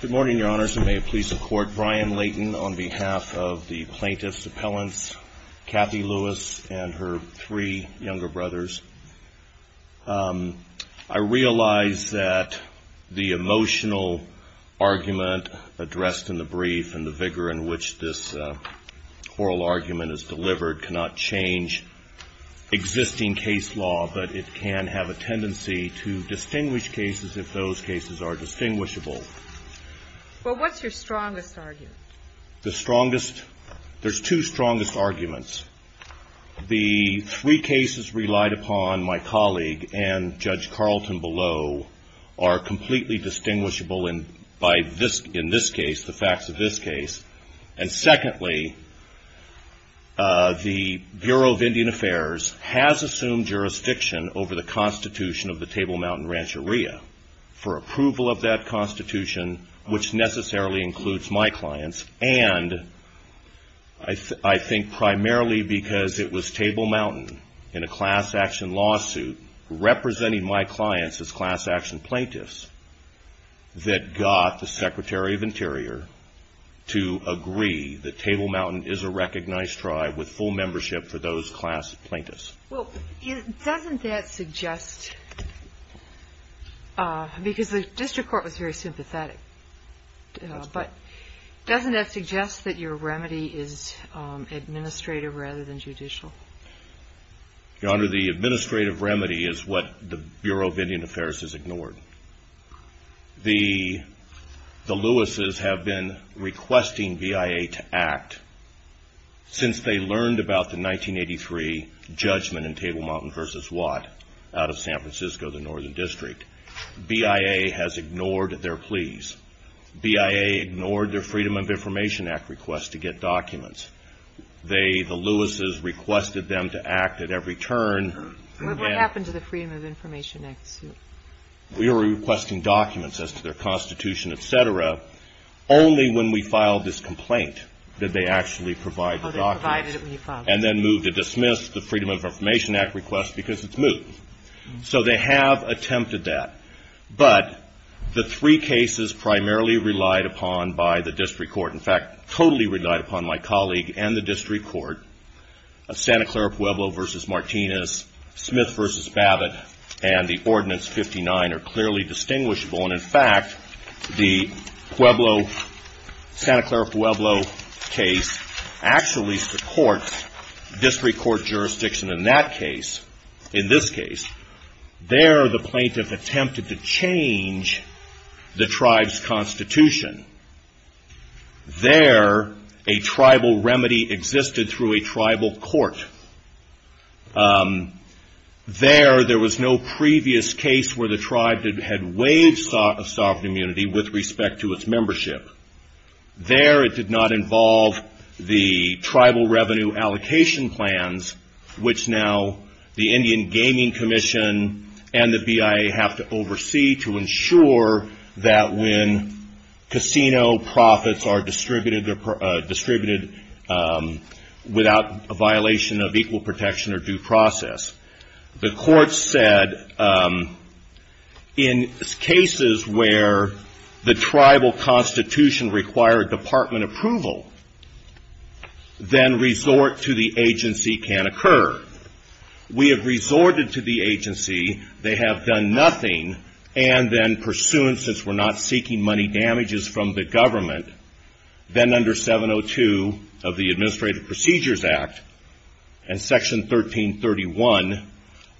Good morning, Your Honors, and may it please the Court, Brian Layton on behalf of the plaintiffs' appellants, Kathy Lewis and her three younger brothers. I realize that the emotional argument addressed in the brief and the vigor in which this oral argument is delivered cannot change existing case law, but it can have a tendency to distinguish cases if those cases are distinguishable. Well, what's your strongest argument? The strongest? There's two strongest arguments. The three cases relied upon, my colleague and Judge Carlton below, are completely distinguishable in this case, the facts of this case. And secondly, the Bureau of Indian Affairs has assumed jurisdiction over the constitution of the Table Mountain Rancheria for approval of that constitution, which necessarily includes my clients, and I think primarily because it was Table Mountain in a class action lawsuit representing my clients as class action plaintiffs that got the Secretary of Interior to agree that Table Mountain is a recognized tribe with full membership for those class plaintiffs. Well, doesn't that suggest, because the district court was very sympathetic, but doesn't that suggest that your remedy is administrative rather than judicial? Your Honor, the administrative remedy is what the Bureau of Indian Affairs has ignored. The Louises have been requesting BIA to act. Since they learned about the 1983 judgment in Table Mountain v. Watt out of San Francisco, the northern district, BIA has ignored their pleas. BIA ignored their Freedom of Information Act request to get documents. They, the Louises, requested them to act at every turn. What happened to the Freedom of Information Act suit? We were requesting documents as to their constitution, et cetera. Only when we filed this complaint did they actually provide the documents. Oh, they provided it when you filed it. And then moved to dismiss the Freedom of Information Act request because it's moved. So they have attempted that. But the three cases primarily relied upon by the district court, in fact, totally relied upon my colleague and the district court, Santa Clara Pueblo v. Martinez, Smith v. Babbitt, and the Ordinance 59 are clearly distinguishable. And in fact, the Santa Clara Pueblo case actually supports district court jurisdiction in that case, in this case. There, the plaintiff attempted to change the tribe's constitution. There, a tribal remedy existed through a tribal court. There, there was no previous case where the tribe had waived sovereign immunity with respect to its membership. There, it did not involve the tribal revenue allocation plans, which now the Indian Gaming Commission and the BIA have to oversee to ensure that when casino profits are distributed without a violation of equal protection or due process. The court said in cases where the tribal constitution required department approval, then resort to the agency can occur. We have resorted to the agency. They have done nothing. And then pursuant, since we're not seeking money damages from the government, then under 702 of the Administrative Procedures Act and Section 1331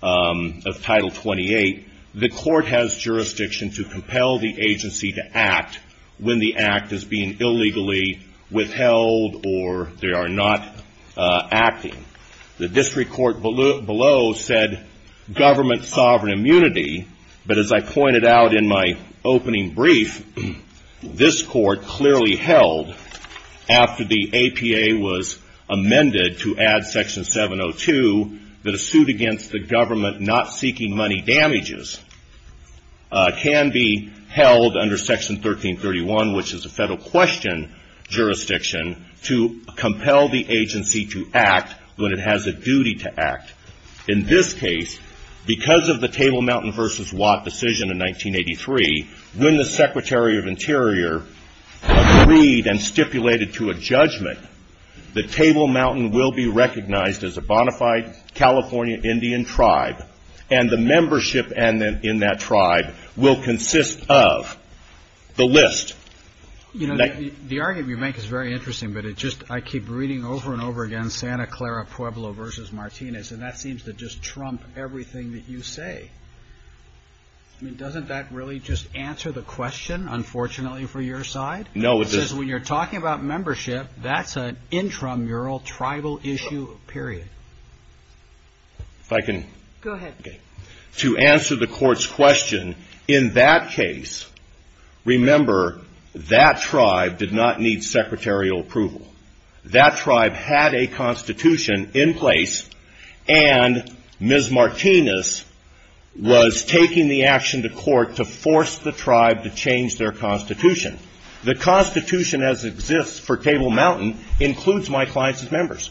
of Title 28, the court has jurisdiction to compel the agency to act when the act is being illegally withheld or they are not acting. The district court below said government sovereign immunity, but as I pointed out in my opening brief, this court clearly held after the APA was amended to add Section 702 that a suit against the government not seeking money damages can be held under Section 1331, which is a federal question jurisdiction, to compel the agency to act when it has a duty to act. In this case, because of the Table Mountain versus Watt decision in 1983, when the Secretary of Interior agreed and stipulated to a judgment, the Table Mountain will be recognized as a bona fide California Indian tribe, and the membership in that tribe will consist of the list. The argument you make is very interesting, but I keep reading over and over again Santa Clara Pueblo versus Martinez, and that seems to just trump everything that you say. I mean, doesn't that really just answer the question, unfortunately, for your side? No, it doesn't. Because when you're talking about membership, that's an intramural tribal issue, period. If I can... Go ahead. To answer the Court's question, in that case, remember, that tribe did not need secretarial approval. That tribe had a constitution in place, and Ms. Martinez was taking the action to court to force the tribe to change their constitution. The constitution as it exists for Table Mountain includes my clients' members.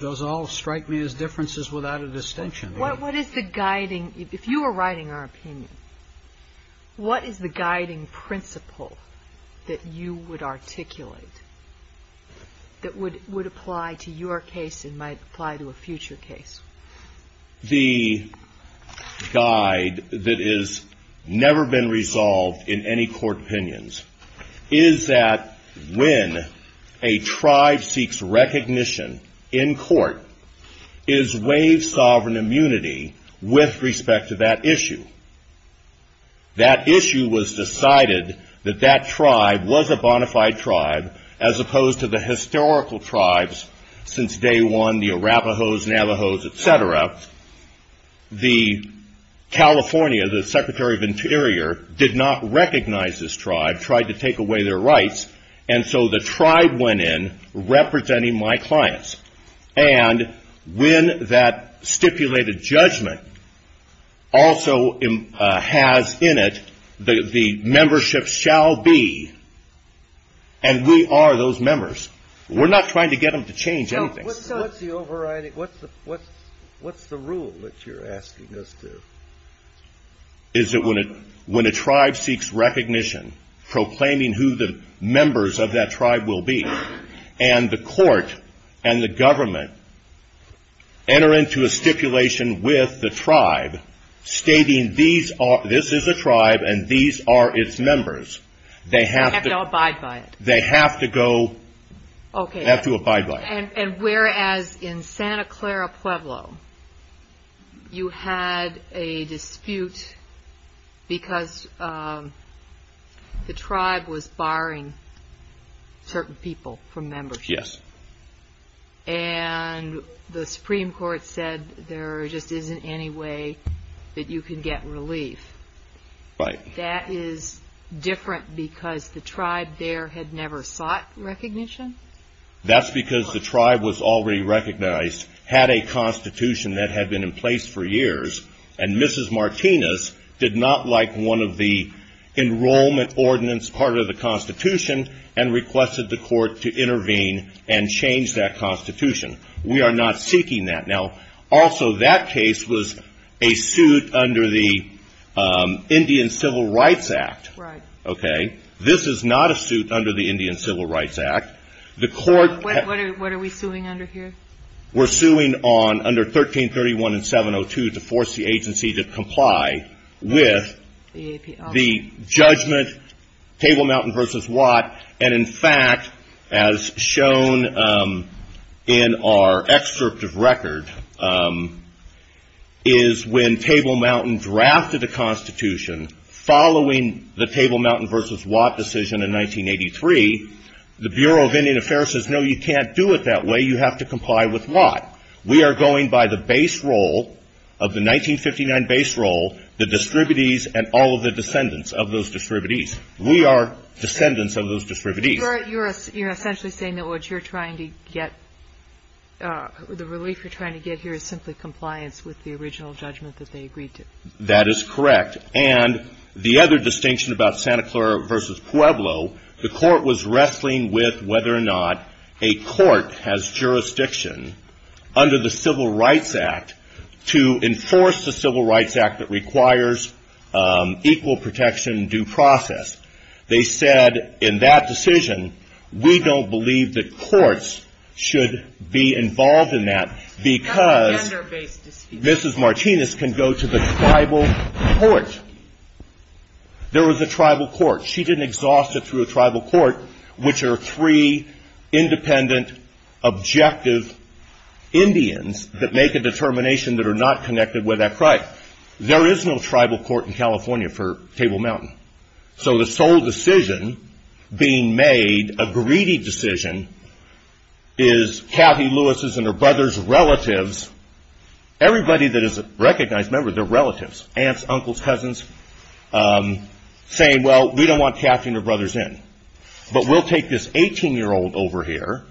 Those all strike me as differences without a distinction. If you were writing our opinion, what is the guiding principle that you would articulate that would apply to your case and might apply to a future case? The guide that has never been resolved in any court opinions is that when a tribe seeks recognition in court, is waived sovereign immunity with respect to that issue. That issue was decided that that tribe was a bona fide tribe, as opposed to the historical tribes since day one, the Arapahos, Navajos, et cetera. The California, the Secretary of Interior, did not recognize this tribe, tried to take away their rights, and so the tribe went in representing my clients. And when that stipulated judgment also has in it the membership shall be, and we are those members. We're not trying to get them to change anything. What's the rule that you're asking us to? Is that when a tribe seeks recognition, proclaiming who the members of that tribe will be, and the court and the government enter into a stipulation with the tribe stating this is a tribe and these are its members, they have to abide by it. Okay, and whereas in Santa Clara Pueblo, you had a dispute because the tribe was barring certain people from membership. Yes. And the Supreme Court said there just isn't any way that you can get relief. Right. And you say that is different because the tribe there had never sought recognition? That's because the tribe was already recognized, had a constitution that had been in place for years, and Mrs. Martinez did not like one of the enrollment ordinance part of the constitution and requested the court to intervene and change that constitution. We are not seeking that. Now, also that case was a suit under the Indian Civil Rights Act. Right. Okay. This is not a suit under the Indian Civil Rights Act. What are we suing under here? We're suing under 1331 and 702 to force the agency to comply with the judgment, Table Mountain v. Watt, and in fact, as shown in our excerpt of record, is when Table Mountain drafted a constitution following the Table Mountain v. Watt decision in 1983, the Bureau of Indian Affairs says, no, you can't do it that way, you have to comply with Watt. We are going by the base role of the 1959 base role, the distributees, and all of the descendants of those distributees. We are descendants of those distributees. You're essentially saying that what you're trying to get, the relief you're trying to get here, is simply compliance with the original judgment that they agreed to? That is correct. And the other distinction about Santa Clara v. Pueblo, the court was wrestling with whether or not a court has jurisdiction under the Civil Rights Act to enforce the Civil Rights Act that requires equal protection and due process. They said in that decision, we don't believe that courts should be involved in that, because Mrs. Martinez can go to the tribal court. There was a tribal court. She didn't exhaust it through a tribal court, which are three independent, objective Indians that make a determination that are not connected with that right. There is no tribal court in California for Table Mountain. So the sole decision being made, a greedy decision, is Cathy Lewis' and her brother's relatives, everybody that is a recognized member, their relatives, aunts, uncles, cousins, saying, well, we don't want Cathy and her brothers in. But we'll take this 18-year-old over here,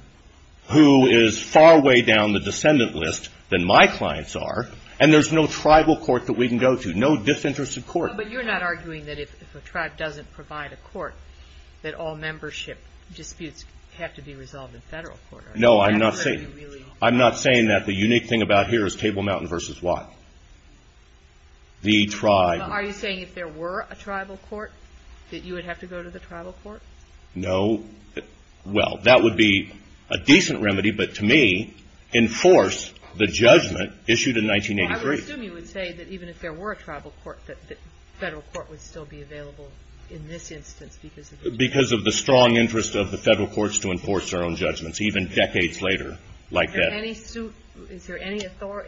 who is far way down the descendant list than my clients are, and there's no tribal court that we can go to, no disinterested court. But you're not arguing that if a tribe doesn't provide a court, that all membership disputes have to be resolved in federal court, are you? No, I'm not saying that. I'm not saying that the unique thing about here is Table Mountain v. Watt, the tribe. Are you saying if there were a tribal court, that you would have to go to the tribal court? No. Well, that would be a decent remedy, but to me, enforce the judgment issued in 1983. I would assume you would say that even if there were a tribal court, that federal court would still be available in this instance because of the judgment. Because of the strong interest of the federal courts to enforce their own judgments, even decades later like that.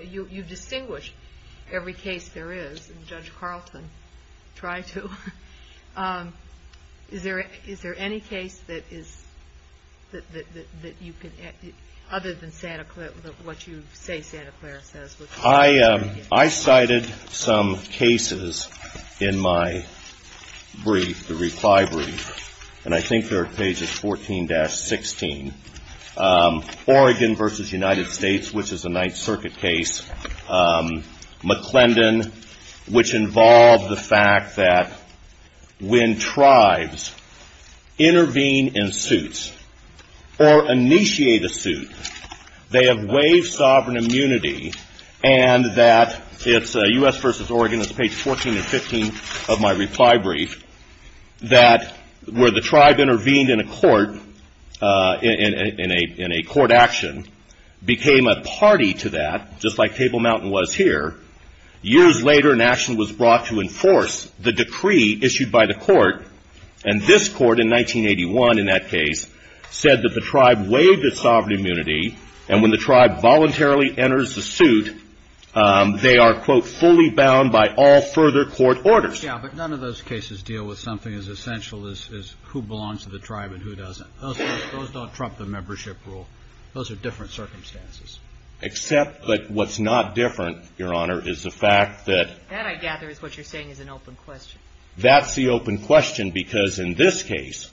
You distinguish every case there is, and Judge Carlton tried to. Is there any case that is other than what you say Santa Clara says? I cited some cases in my brief, the reply brief, and I think they're at pages 14-16. Oregon v. United States, which is a Ninth Circuit case, McClendon, which involved the fact that when tribes intervene in suits or initiate a suit, they have waived sovereign immunity and that it's U.S. v. Oregon, that's page 14 and 15 of my reply brief, that where the tribe intervened in a court, in a court action, became a party to that, just like Table Mountain was here. Years later, an action was brought to enforce the decree issued by the court, and this court in 1981 in that case said that the tribe waived its sovereign immunity, and when the tribe voluntarily enters the suit, they are, quote, fully bound by all further court orders. Yeah, but none of those cases deal with something as essential as who belongs to the tribe and who doesn't. Those don't trump the membership rule. Those are different circumstances. Except that what's not different, Your Honor, is the fact that That, I gather, is what you're saying is an open question. That's the open question, because in this case,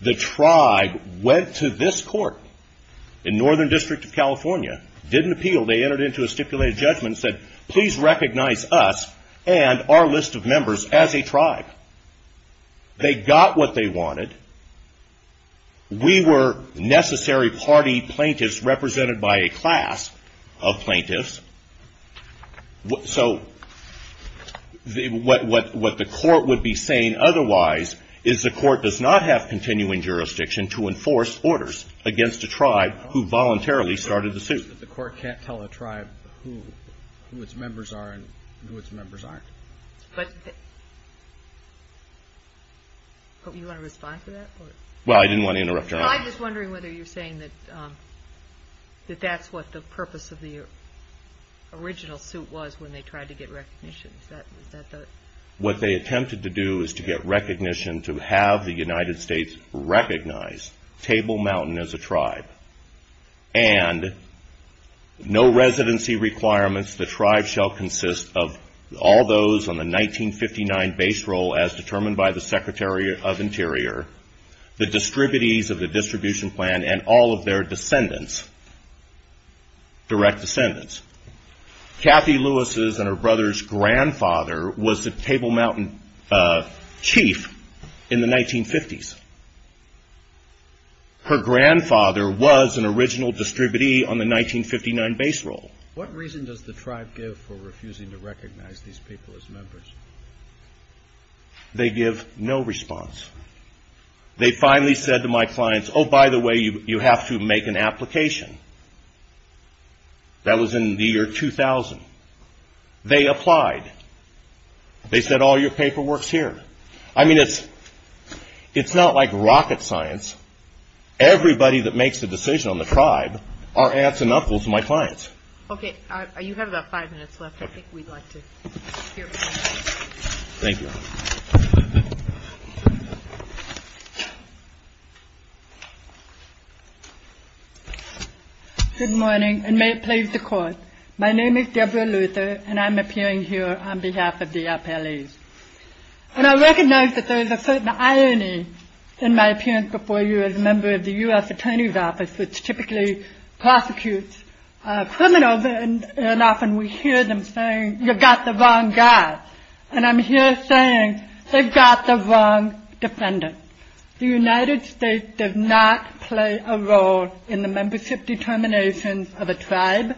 the tribe went to this court. In Northern District of California, didn't appeal. They entered into a stipulated judgment and said, Please recognize us and our list of members as a tribe. They got what they wanted. We were necessary party plaintiffs represented by a class of plaintiffs. So what the court would be saying otherwise is the court does not have continuing jurisdiction to enforce orders against a tribe who voluntarily started the suit. The court can't tell a tribe who its members are and who its members aren't. But you want to respond to that? Well, I didn't want to interrupt Your Honor. I'm just wondering whether you're saying that that's what the purpose of the original suit was when they tried to get recognition. What they attempted to do is to get recognition to have the United States recognize Table Mountain as a tribe. And no residency requirements, the tribe shall consist of all those on the 1959 base roll as determined by the Secretary of Interior, the distributees of the distribution plan, and all of their descendants, direct descendants. Kathy Lewis's and her brother's grandfather was the Table Mountain chief in the 1950s. Her grandfather was an original distributee on the 1959 base roll. What reason does the tribe give for refusing to recognize these people as members? They give no response. They finally said to my clients, Oh, by the way, you have to make an application. That was in the year 2000. They applied. They said all your paperwork's here. I mean, it's not like rocket science. Everybody that makes the decision on the tribe are aunts and uncles of my clients. Okay, you have about five minutes left. Thank you, Your Honor. Good morning, and may it please the Court. My name is Deborah Luther, and I'm appearing here on behalf of the appellees. And I recognize that there is a certain irony in my appearance before you as a member of the U.S. Attorney's Office, which typically prosecutes criminals, and often we hear them saying, You've got the wrong guy. And I'm here saying, They've got the wrong defendant. The United States does not play a role in the membership determinations of a tribe.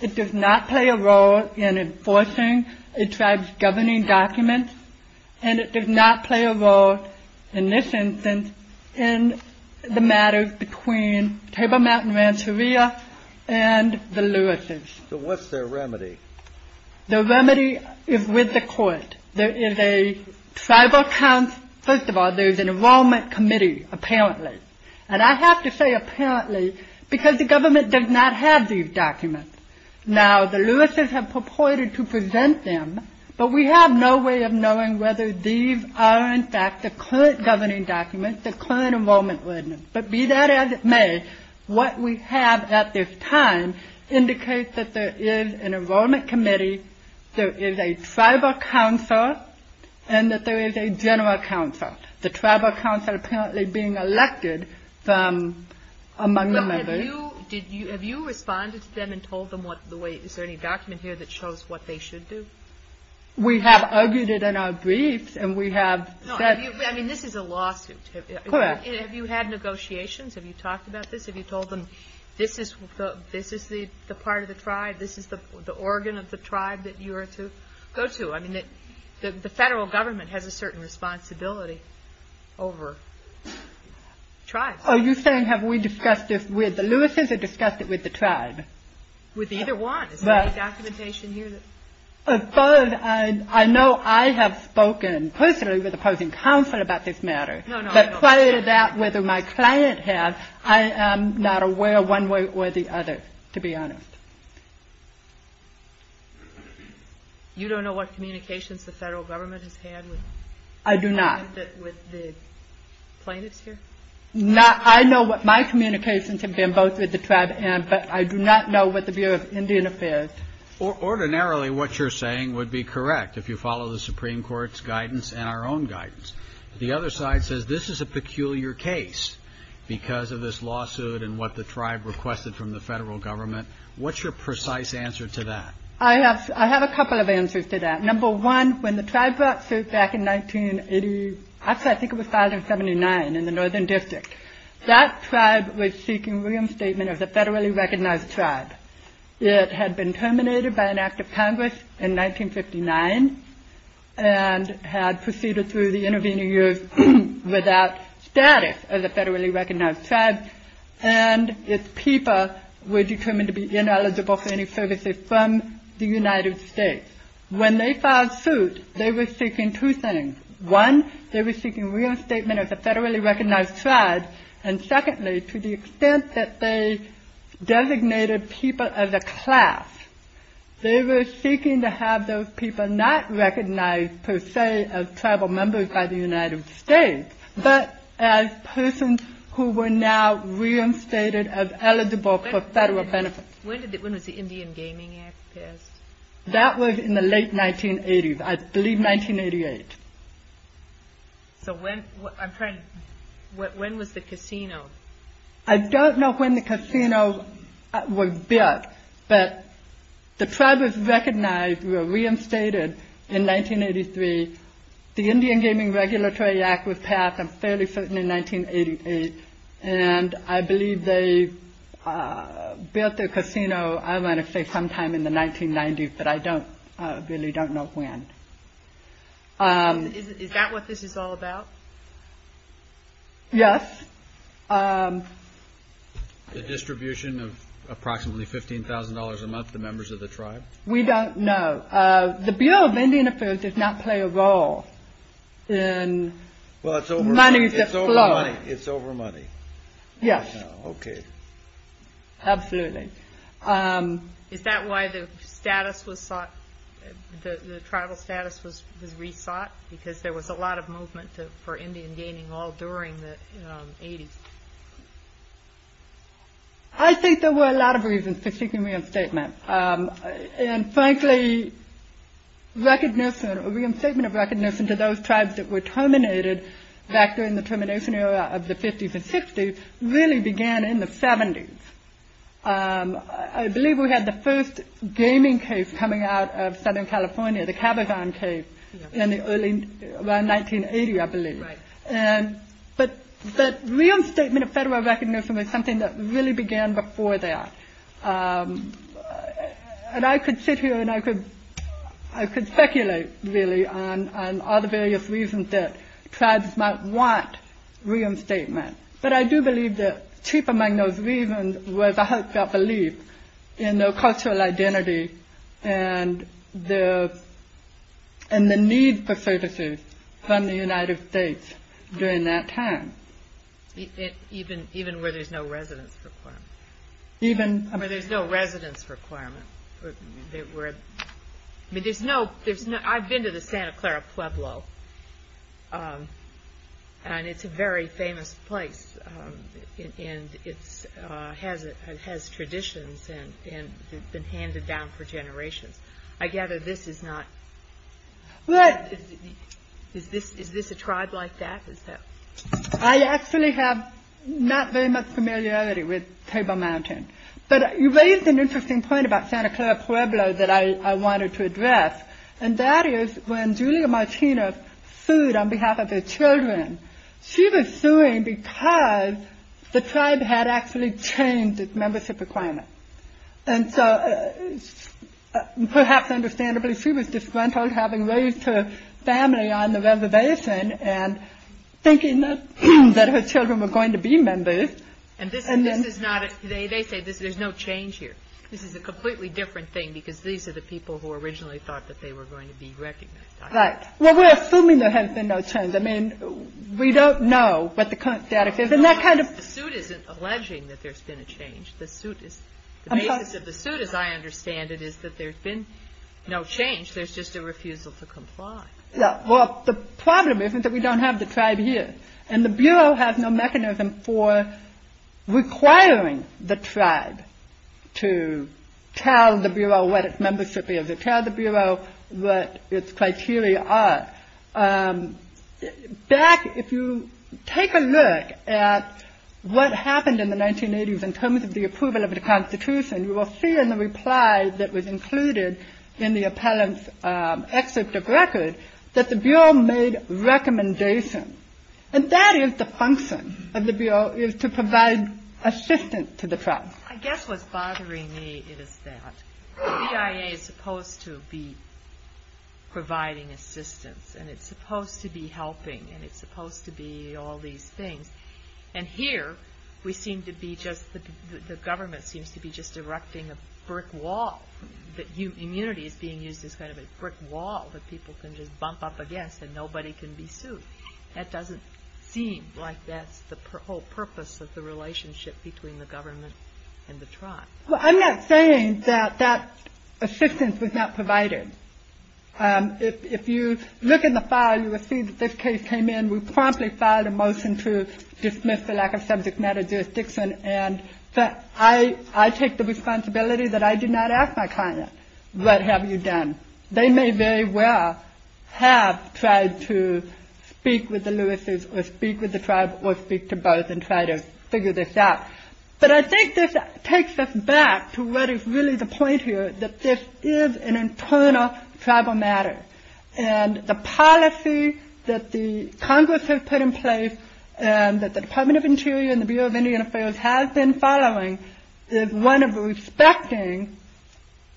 It does not play a role in enforcing a tribe's governing documents, and it does not play a role, in this instance, in the matters between Table Mountain Rancheria and the Lewises. So what's their remedy? Their remedy is with the court. There is a tribal council. First of all, there's an enrollment committee, apparently. And I have to say apparently because the government does not have these documents. Now, the Lewises have purported to present them, but we have no way of knowing whether these are, in fact, the current governing documents, the current enrollment ordinance. But be that as it may, what we have at this time indicates that there is an enrollment committee, there is a tribal council, and that there is a general council, the tribal council apparently being elected from among the members. But have you responded to them and told them what the way – is there any document here that shows what they should do? We have argued it in our briefs, and we have said – No, I mean, this is a lawsuit. Correct. Have you had negotiations? Have you talked about this? Have you told them this is the part of the tribe, this is the organ of the tribe that you are to go to? I mean, the federal government has a certain responsibility over tribes. Are you saying have we discussed this with the Lewises or discussed it with the tribe? With either one. Is there any documentation here? I know I have spoken personally with opposing counsel about this matter. No, no. But prior to that, whether my client has, I am not aware one way or the other, to be honest. You don't know what communications the federal government has had with the plaintiffs here? I do not. I know what my communications have been both with the tribe and I do not know what the Bureau of Indian Affairs. Ordinarily, what you're saying would be correct if you follow the Supreme Court's guidance and our own guidance. The other side says this is a peculiar case because of this lawsuit and what the tribe requested from the federal government. What's your precise answer to that? I have a couple of answers to that. Number one, when the tribe brought suit back in 1980, actually I think it was 1979 in the northern district, that tribe was seeking William's statement as a federally recognized tribe. It had been terminated by an act of Congress in 1959 and had proceeded through the intervening years without status as a federally recognized tribe and its people were determined to be ineligible for any services from the United States. When they filed suit, they were seeking two things. One, they were seeking William's statement as a federally recognized tribe and secondly, to the extent that they designated people as a class, they were seeking to have those people not recognized per se as tribal members by the United States but as persons who were now reinstated as eligible for federal benefits. When was the Indian Gaming Act passed? That was in the late 1980s, I believe 1988. When was the casino? I don't know when the casino was built but the tribe was recognized, were reinstated in 1983. The Indian Gaming Regulatory Act was passed, I'm fairly certain, in 1988 and I believe they built their casino, I want to say sometime in the 1990s but I really don't know when. Is that what this is all about? Yes. The distribution of approximately $15,000 a month to members of the tribe? We don't know. The Bureau of Indian Affairs did not play a role in money that flowed. It's over money. Yes. Okay. Absolutely. Is that why the status was sought, the tribal status was re-sought? Because there was a lot of movement for Indian gaming all during the 80s. I think there were a lot of reasons for seeking reinstatement and frankly, recognition, reinstatement of recognition to those tribes that were terminated back during the termination era of the 50s and 60s really began in the 70s. I believe we had the first gaming case coming out of Southern California, the Cabazon case, around 1980, I believe. But reinstatement of federal recognition was something that really began before that. And I could sit here and I could speculate, really, on all the various reasons that tribes might want reinstatement. But I do believe that chief among those reasons was a heartfelt belief in their cultural identity and the need for services from the United States during that time. Even where there's no residence requirement. Even- Where there's no residence requirement. I've been to the Santa Clara Pueblo and it's a very famous place and it has traditions and it's been handed down for generations. I gather this is not- What? Is this a tribe like that? I actually have not very much familiarity with Table Mountain. But you raised an interesting point about Santa Clara Pueblo that I wanted to address and that is when Julia Martinez sued on behalf of her children, she was suing because the tribe had actually changed its membership requirement. And so, perhaps understandably, she was disgruntled having raised her family on the reservation and thinking that her children were going to be members. And this is not- They say there's no change here. This is a completely different thing because these are the people who originally thought that they were going to be recognized. Right. Well, we're assuming there has been no change. I mean, we don't know what the current status is and that kind of- The suit isn't alleging that there's been a change. The basis of the suit, as I understand it, is that there's been no change. There's just a refusal to comply. Well, the problem isn't that we don't have the tribe here. And the Bureau has no mechanism for requiring the tribe to tell the Bureau what its membership is or tell the Bureau what its criteria are. Back, if you take a look at what happened in the 1980s in terms of the approval of the Constitution, you will see in the reply that was included in the appellant's excerpt of record that the Bureau made recommendations. And that is the function of the Bureau, is to provide assistance to the tribe. I guess what's bothering me is that the BIA is supposed to be providing assistance and it's supposed to be helping and it's supposed to be all these things. And here, we seem to be just-the government seems to be just erecting a brick wall. Immunity is being used as kind of a brick wall that people can just bump up against and nobody can be sued. That doesn't seem like that's the whole purpose of the relationship between the government and the tribe. Well, I'm not saying that that assistance was not provided. If you look in the file, you will see that this case came in. We promptly filed a motion to dismiss the lack of subject matter jurisdiction. And I take the responsibility that I do not ask my client, what have you done? They may very well have tried to speak with the Lewis's or speak with the tribe or speak to both and try to figure this out. But I think this takes us back to what is really the point here, that this is an internal tribal matter. And the policy that the Congress has put in place and that the Department of Interior and the Bureau of Indian Affairs has been following is one of respecting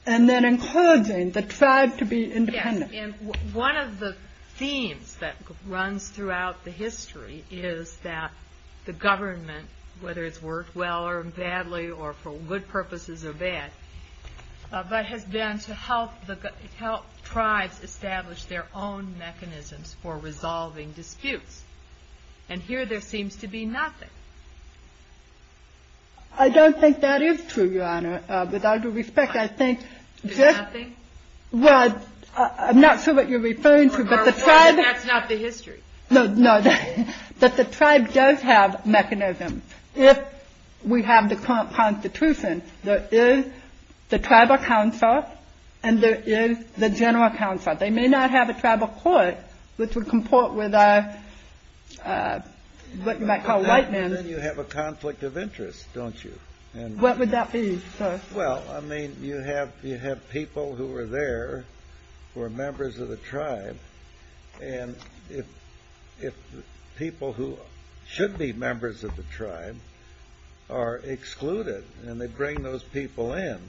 and then encouraging the tribe to be independent. And one of the themes that runs throughout the history is that the government, whether it's worked well or badly or for good purposes or bad, but has been to help tribes establish their own mechanisms for resolving disputes. And here there seems to be nothing. I don't think that is true, Your Honor. Without due respect, I think just. There's nothing? Well, I'm not sure what you're referring to, but the tribe. That's not the history. No, no. But the tribe does have mechanisms. If we have the current Constitution, there is the tribal council and there is the general council. They may not have a tribal court, which would comport with what you might call white men. Then you have a conflict of interest, don't you? What would that be, sir? Well, I mean, you have people who are there who are members of the tribe. And if people who should be members of the tribe are excluded and they bring those people in,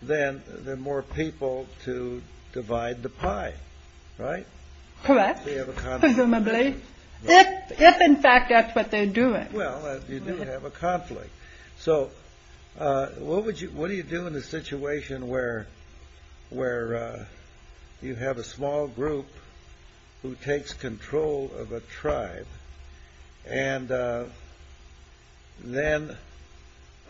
then there are more people to divide the pie, right? Correct. Presumably. If, in fact, that's what they're doing. Well, you do have a conflict. So what do you do in a situation where you have a small group who takes control of a tribe and then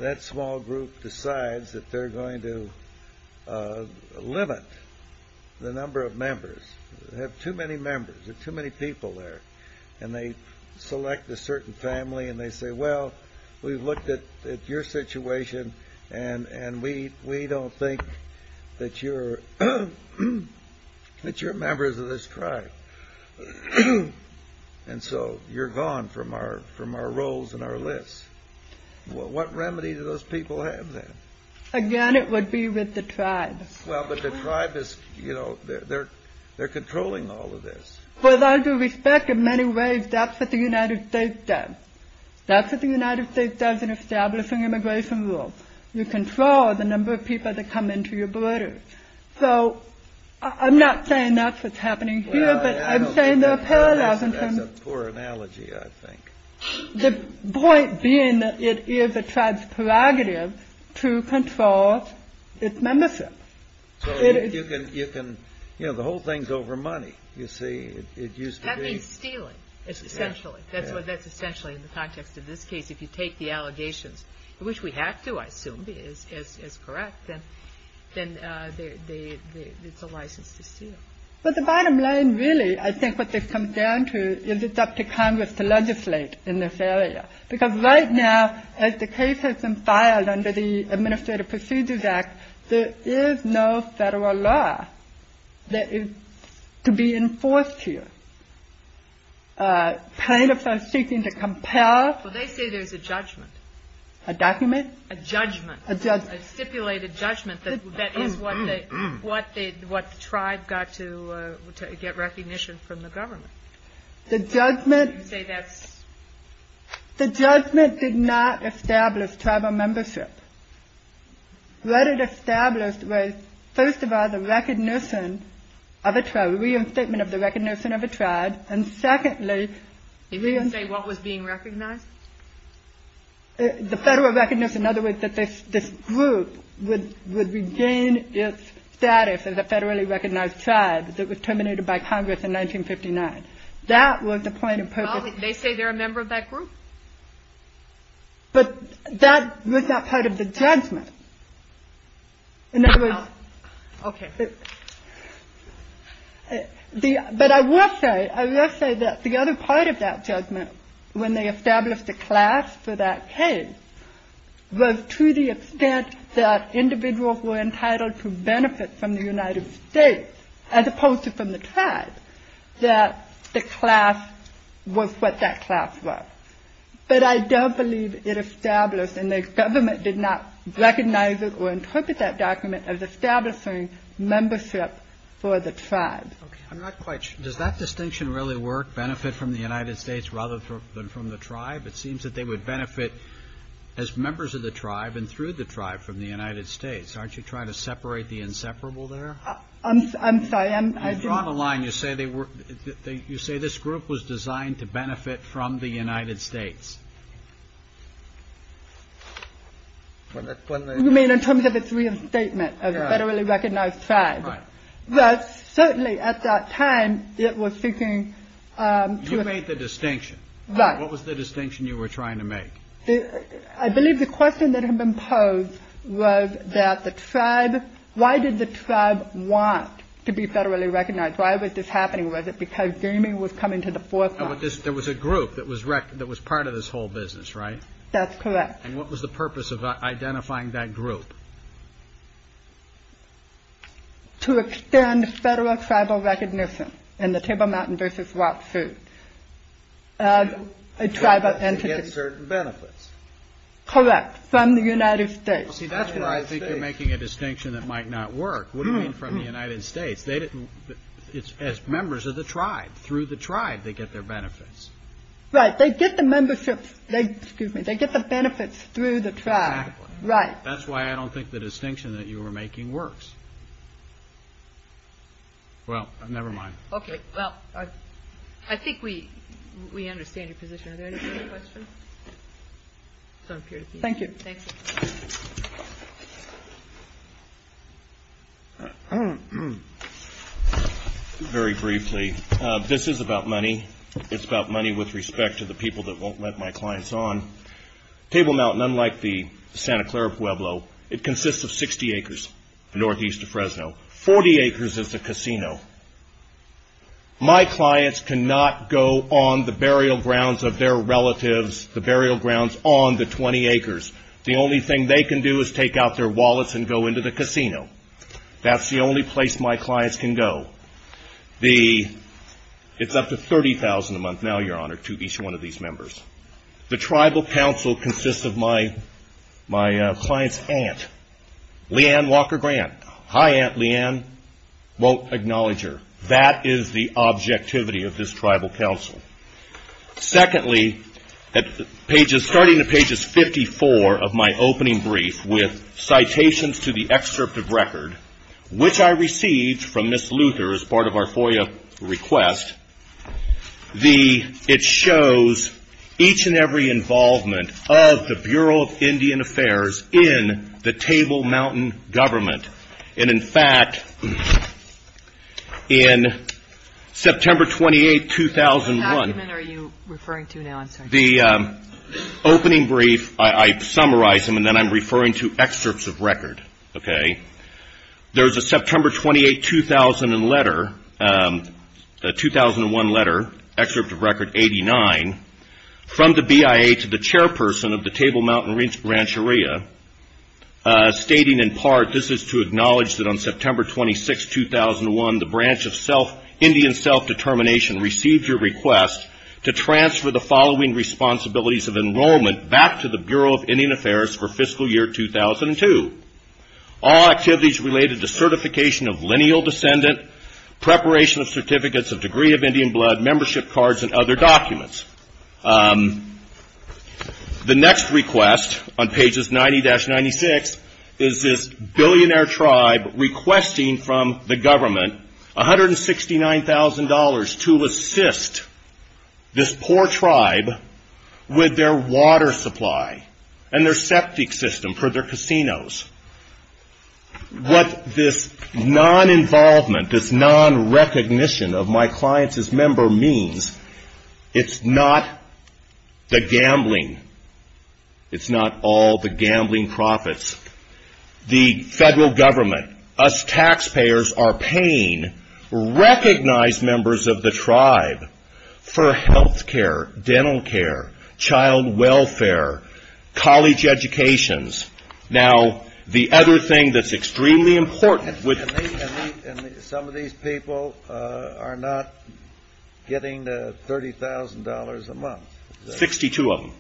that small group decides that they're going to limit the number of members? They have too many members. There are too many people there. And they select a certain family and they say, well, we've looked at your situation and we don't think that you're members of this tribe. And so you're gone from our rolls and our lists. What remedy do those people have then? Again, it would be with the tribe. Well, but the tribe is, you know, they're controlling all of this. With all due respect, in many ways, that's what the United States does. That's what the United States does in establishing immigration rules. You control the number of people that come into your borders. So I'm not saying that's what's happening here, but I'm saying there are parallels. That's a poor analogy, I think. The point being that it is a tribe's prerogative to control its membership. So you can, you know, the whole thing's over money, you see. It used to be. That means stealing, essentially. That's essentially in the context of this case. If you take the allegations, which we have to, I assume, as correct, then it's a license to steal. But the bottom line, really, I think what this comes down to is it's up to Congress to legislate in this area. Because right now, as the case has been filed under the Administrative Procedures Act, there is no federal law that is to be enforced here. Plaintiffs are seeking to compel. Well, they say there's a judgment. A document? A judgment. A stipulated judgment that is what the tribe got to get recognition from the government. The judgment... You say that's... The judgment did not establish tribal membership. What it established was, first of all, the recognition of a tribe, reinstatement of the recognition of a tribe. And secondly... Did you say what was being recognized? The federal recognition, in other words, that this group would regain its status as a federally recognized tribe. And thirdly, the recognition of a tribe that was terminated by Congress in 1959. That was the point of purpose. Well, they say they're a member of that group. But that was not part of the judgment. In other words... Okay. But I will say, I will say that the other part of that judgment, when they established a class for that case, was to the extent that individuals were entitled to benefit from the United States, as opposed to from the tribe, that the class was what that class was. But I don't believe it established, and the government did not recognize it or interpret that document as establishing membership for the tribe. Okay. I'm not quite sure. Does that distinction really work, benefit from the United States rather than from the tribe? It seems that they would benefit as members of the tribe and through the tribe from the United States. Aren't you trying to separate the inseparable there? I'm sorry. You've drawn a line. You say this group was designed to benefit from the United States. You mean in terms of its reinstatement of a federally recognized tribe? Right. Certainly at that time, it was seeking to... You made the distinction. Right. What was the distinction you were trying to make? I believe the question that had been posed was that the tribe, why did the tribe want to be federally recognized? Why was this happening? Was it because gaming was coming to the forefront? There was a group that was part of this whole business, right? That's correct. And what was the purpose of identifying that group? To extend federal tribal recognition in the Table Mountain versus Wild Food as a tribal entity. To get certain benefits. Correct. From the United States. See, that's why I think you're making a distinction that might not work. What do you mean from the United States? It's as members of the tribe. Through the tribe, they get their benefits. Right. They get the membership. Excuse me. They get the benefits through the tribe. Right. That's why I don't think the distinction that you were making works. Well, never mind. Okay. Well, I think we understand your position. Are there any further questions? Thank you. Thank you. Very briefly, this is about money. It's about money with respect to the people that won't let my clients on. Table Mountain, unlike the Santa Clara Pueblo, it consists of 60 acres northeast of Fresno. 40 acres is a casino. My clients cannot go on the burial grounds of their relatives, the burial grounds on the 20 acres. The only thing they can do is take out their wallets and go into the casino. That's the only place my clients can go. It's up to $30,000 a month now, Your Honor, to each one of these members. The tribal council consists of my client's aunt, Leanne Walker Grant. Hi, Aunt Leanne. Won't acknowledge her. That is the objectivity of this tribal council. Secondly, starting at pages 54 of my opening brief with citations to the excerpt of record, which I received from Ms. Luther as part of our FOIA request, it shows each and every involvement of the Bureau of Indian Affairs in the Table Mountain government. In fact, in September 28, 2001— What document are you referring to now? I'm sorry. The opening brief, I summarize them, and then I'm referring to excerpts of record. There's a September 28, 2001 letter, excerpt of record 89, from the BIA to the chairperson of the Table Mountain Rancheria stating in part, this is to acknowledge that on September 26, 2001, the branch of Indian Self-Determination received your request to transfer the following responsibilities of enrollment back to the Bureau of Indian Affairs for fiscal year 2002. All activities related to certification of lineal descendant, preparation of certificates of degree of Indian blood, membership cards, and other documents. The next request on pages 90-96 is this billionaire tribe requesting from the government $169,000 to assist this poor tribe with their water supply and their septic system for their casinos. What this non-involvement, this non-recognition of my client's member means, it's not the gambling. It's not all the gambling profits. The federal government, us taxpayers are paying recognized members of the tribe for health care, dental care, child welfare, college educations. Now, the other thing that's extremely important... And some of these people are not getting the $30,000 a month. 62 of them.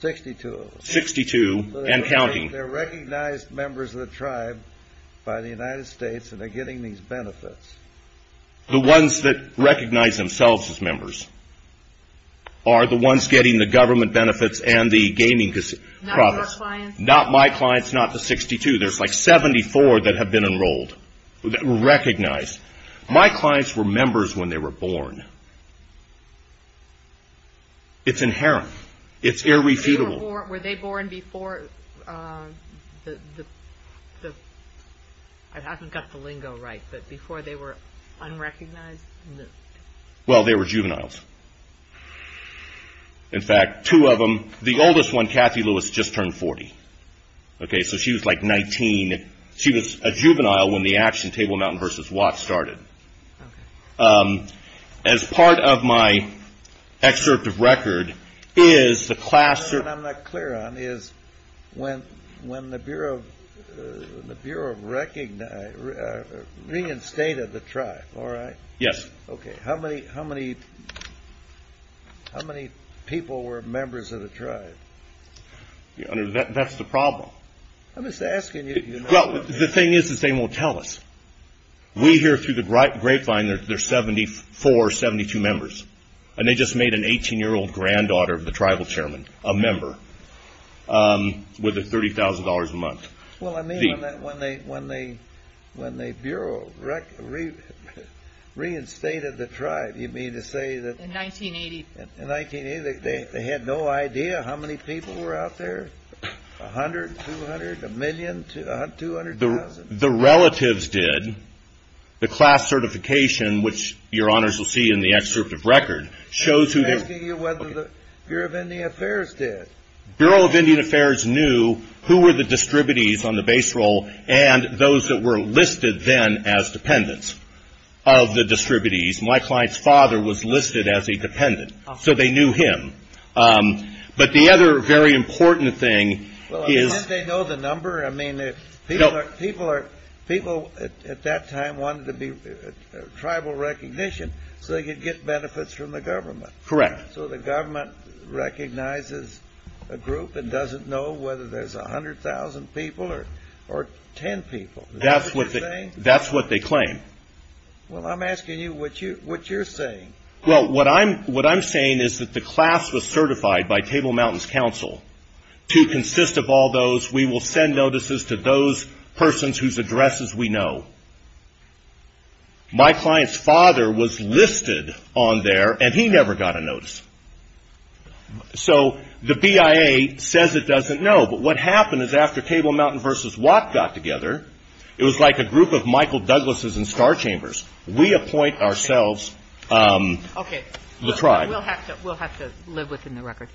62 of them. 62 and counting. They're recognized members of the tribe by the United States and they're getting these benefits. The ones that recognize themselves as members are the ones getting the government benefits and the gaming profits. Not my clients, not the 62. There's like 74 that have been enrolled, that were recognized. My clients were members when they were born. It's inherent. It's irrefutable. Were they born before the... I haven't got the lingo right, but before they were unrecognized? Well, they were juveniles. In fact, two of them, the oldest one, Kathy Lewis, just turned 40. Okay, so she was like 19. She was a juvenile when the action Table Mountain versus Watts started. As part of my excerpt of record is the class... What I'm not clear on is when the Bureau of Recognize... Reinstated the tribe, all right? Yes. Okay, how many people were members of the tribe? That's the problem. I'm just asking you... Well, the thing is they won't tell us. We hear through the grapevine there's 74, 72 members, and they just made an 18-year-old granddaughter of the tribal chairman a member with $30,000 a month. Well, I mean, when they Bureau reinstated the tribe, you mean to say that... In 1980. In 1980, they had no idea how many people were out there? 100, 200, a million, 200,000? The relatives did. The class certification, which your honors will see in the excerpt of record, shows who they... I'm asking you whether the Bureau of Indian Affairs did. Bureau of Indian Affairs knew who were the distributies on the base roll and those that were listed then as dependents of the distributies. My client's father was listed as a dependent, so they knew him. But the other very important thing is... Well, how did they know the number? I mean, people at that time wanted to be tribal recognition so they could get benefits from the government. Correct. So the government recognizes a group and doesn't know whether there's 100,000 people or 10 people. Is that what you're saying? That's what they claim. Well, I'm asking you what you're saying. Well, what I'm saying is that the class was certified by Table Mountains Council to consist of all those, we will send notices to those persons whose addresses we know. My client's father was listed on there, and he never got a notice. So the BIA says it doesn't know. But what happened is after Table Mountain v. Watt got together, it was like a group of Michael Douglases in Star Chambers. We appoint ourselves the tribe. Okay. We'll have to live within the record.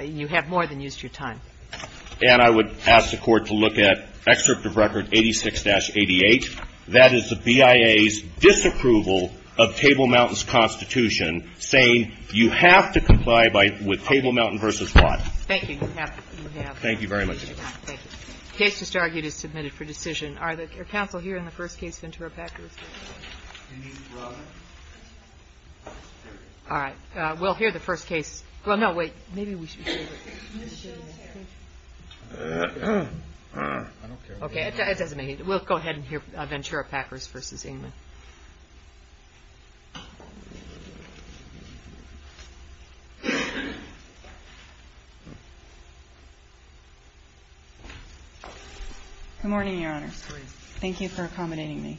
You have more than used your time. And I would ask the Court to look at Excerpt of Record 86-88. That is the BIA's disapproval of Table Mountains Constitution, saying you have to comply with Table Mountain v. Watt. Thank you. You have. Thank you very much. Thank you. The case just argued is submitted for decision. Are there counsel here in the first case, Ventura-Packers? All right. We'll hear the first case. Well, no, wait. Maybe we should hear the first case. Okay. We'll go ahead and hear Ventura-Packers v. Englund. Good morning, Your Honor. Good morning. Thank you for accommodating me.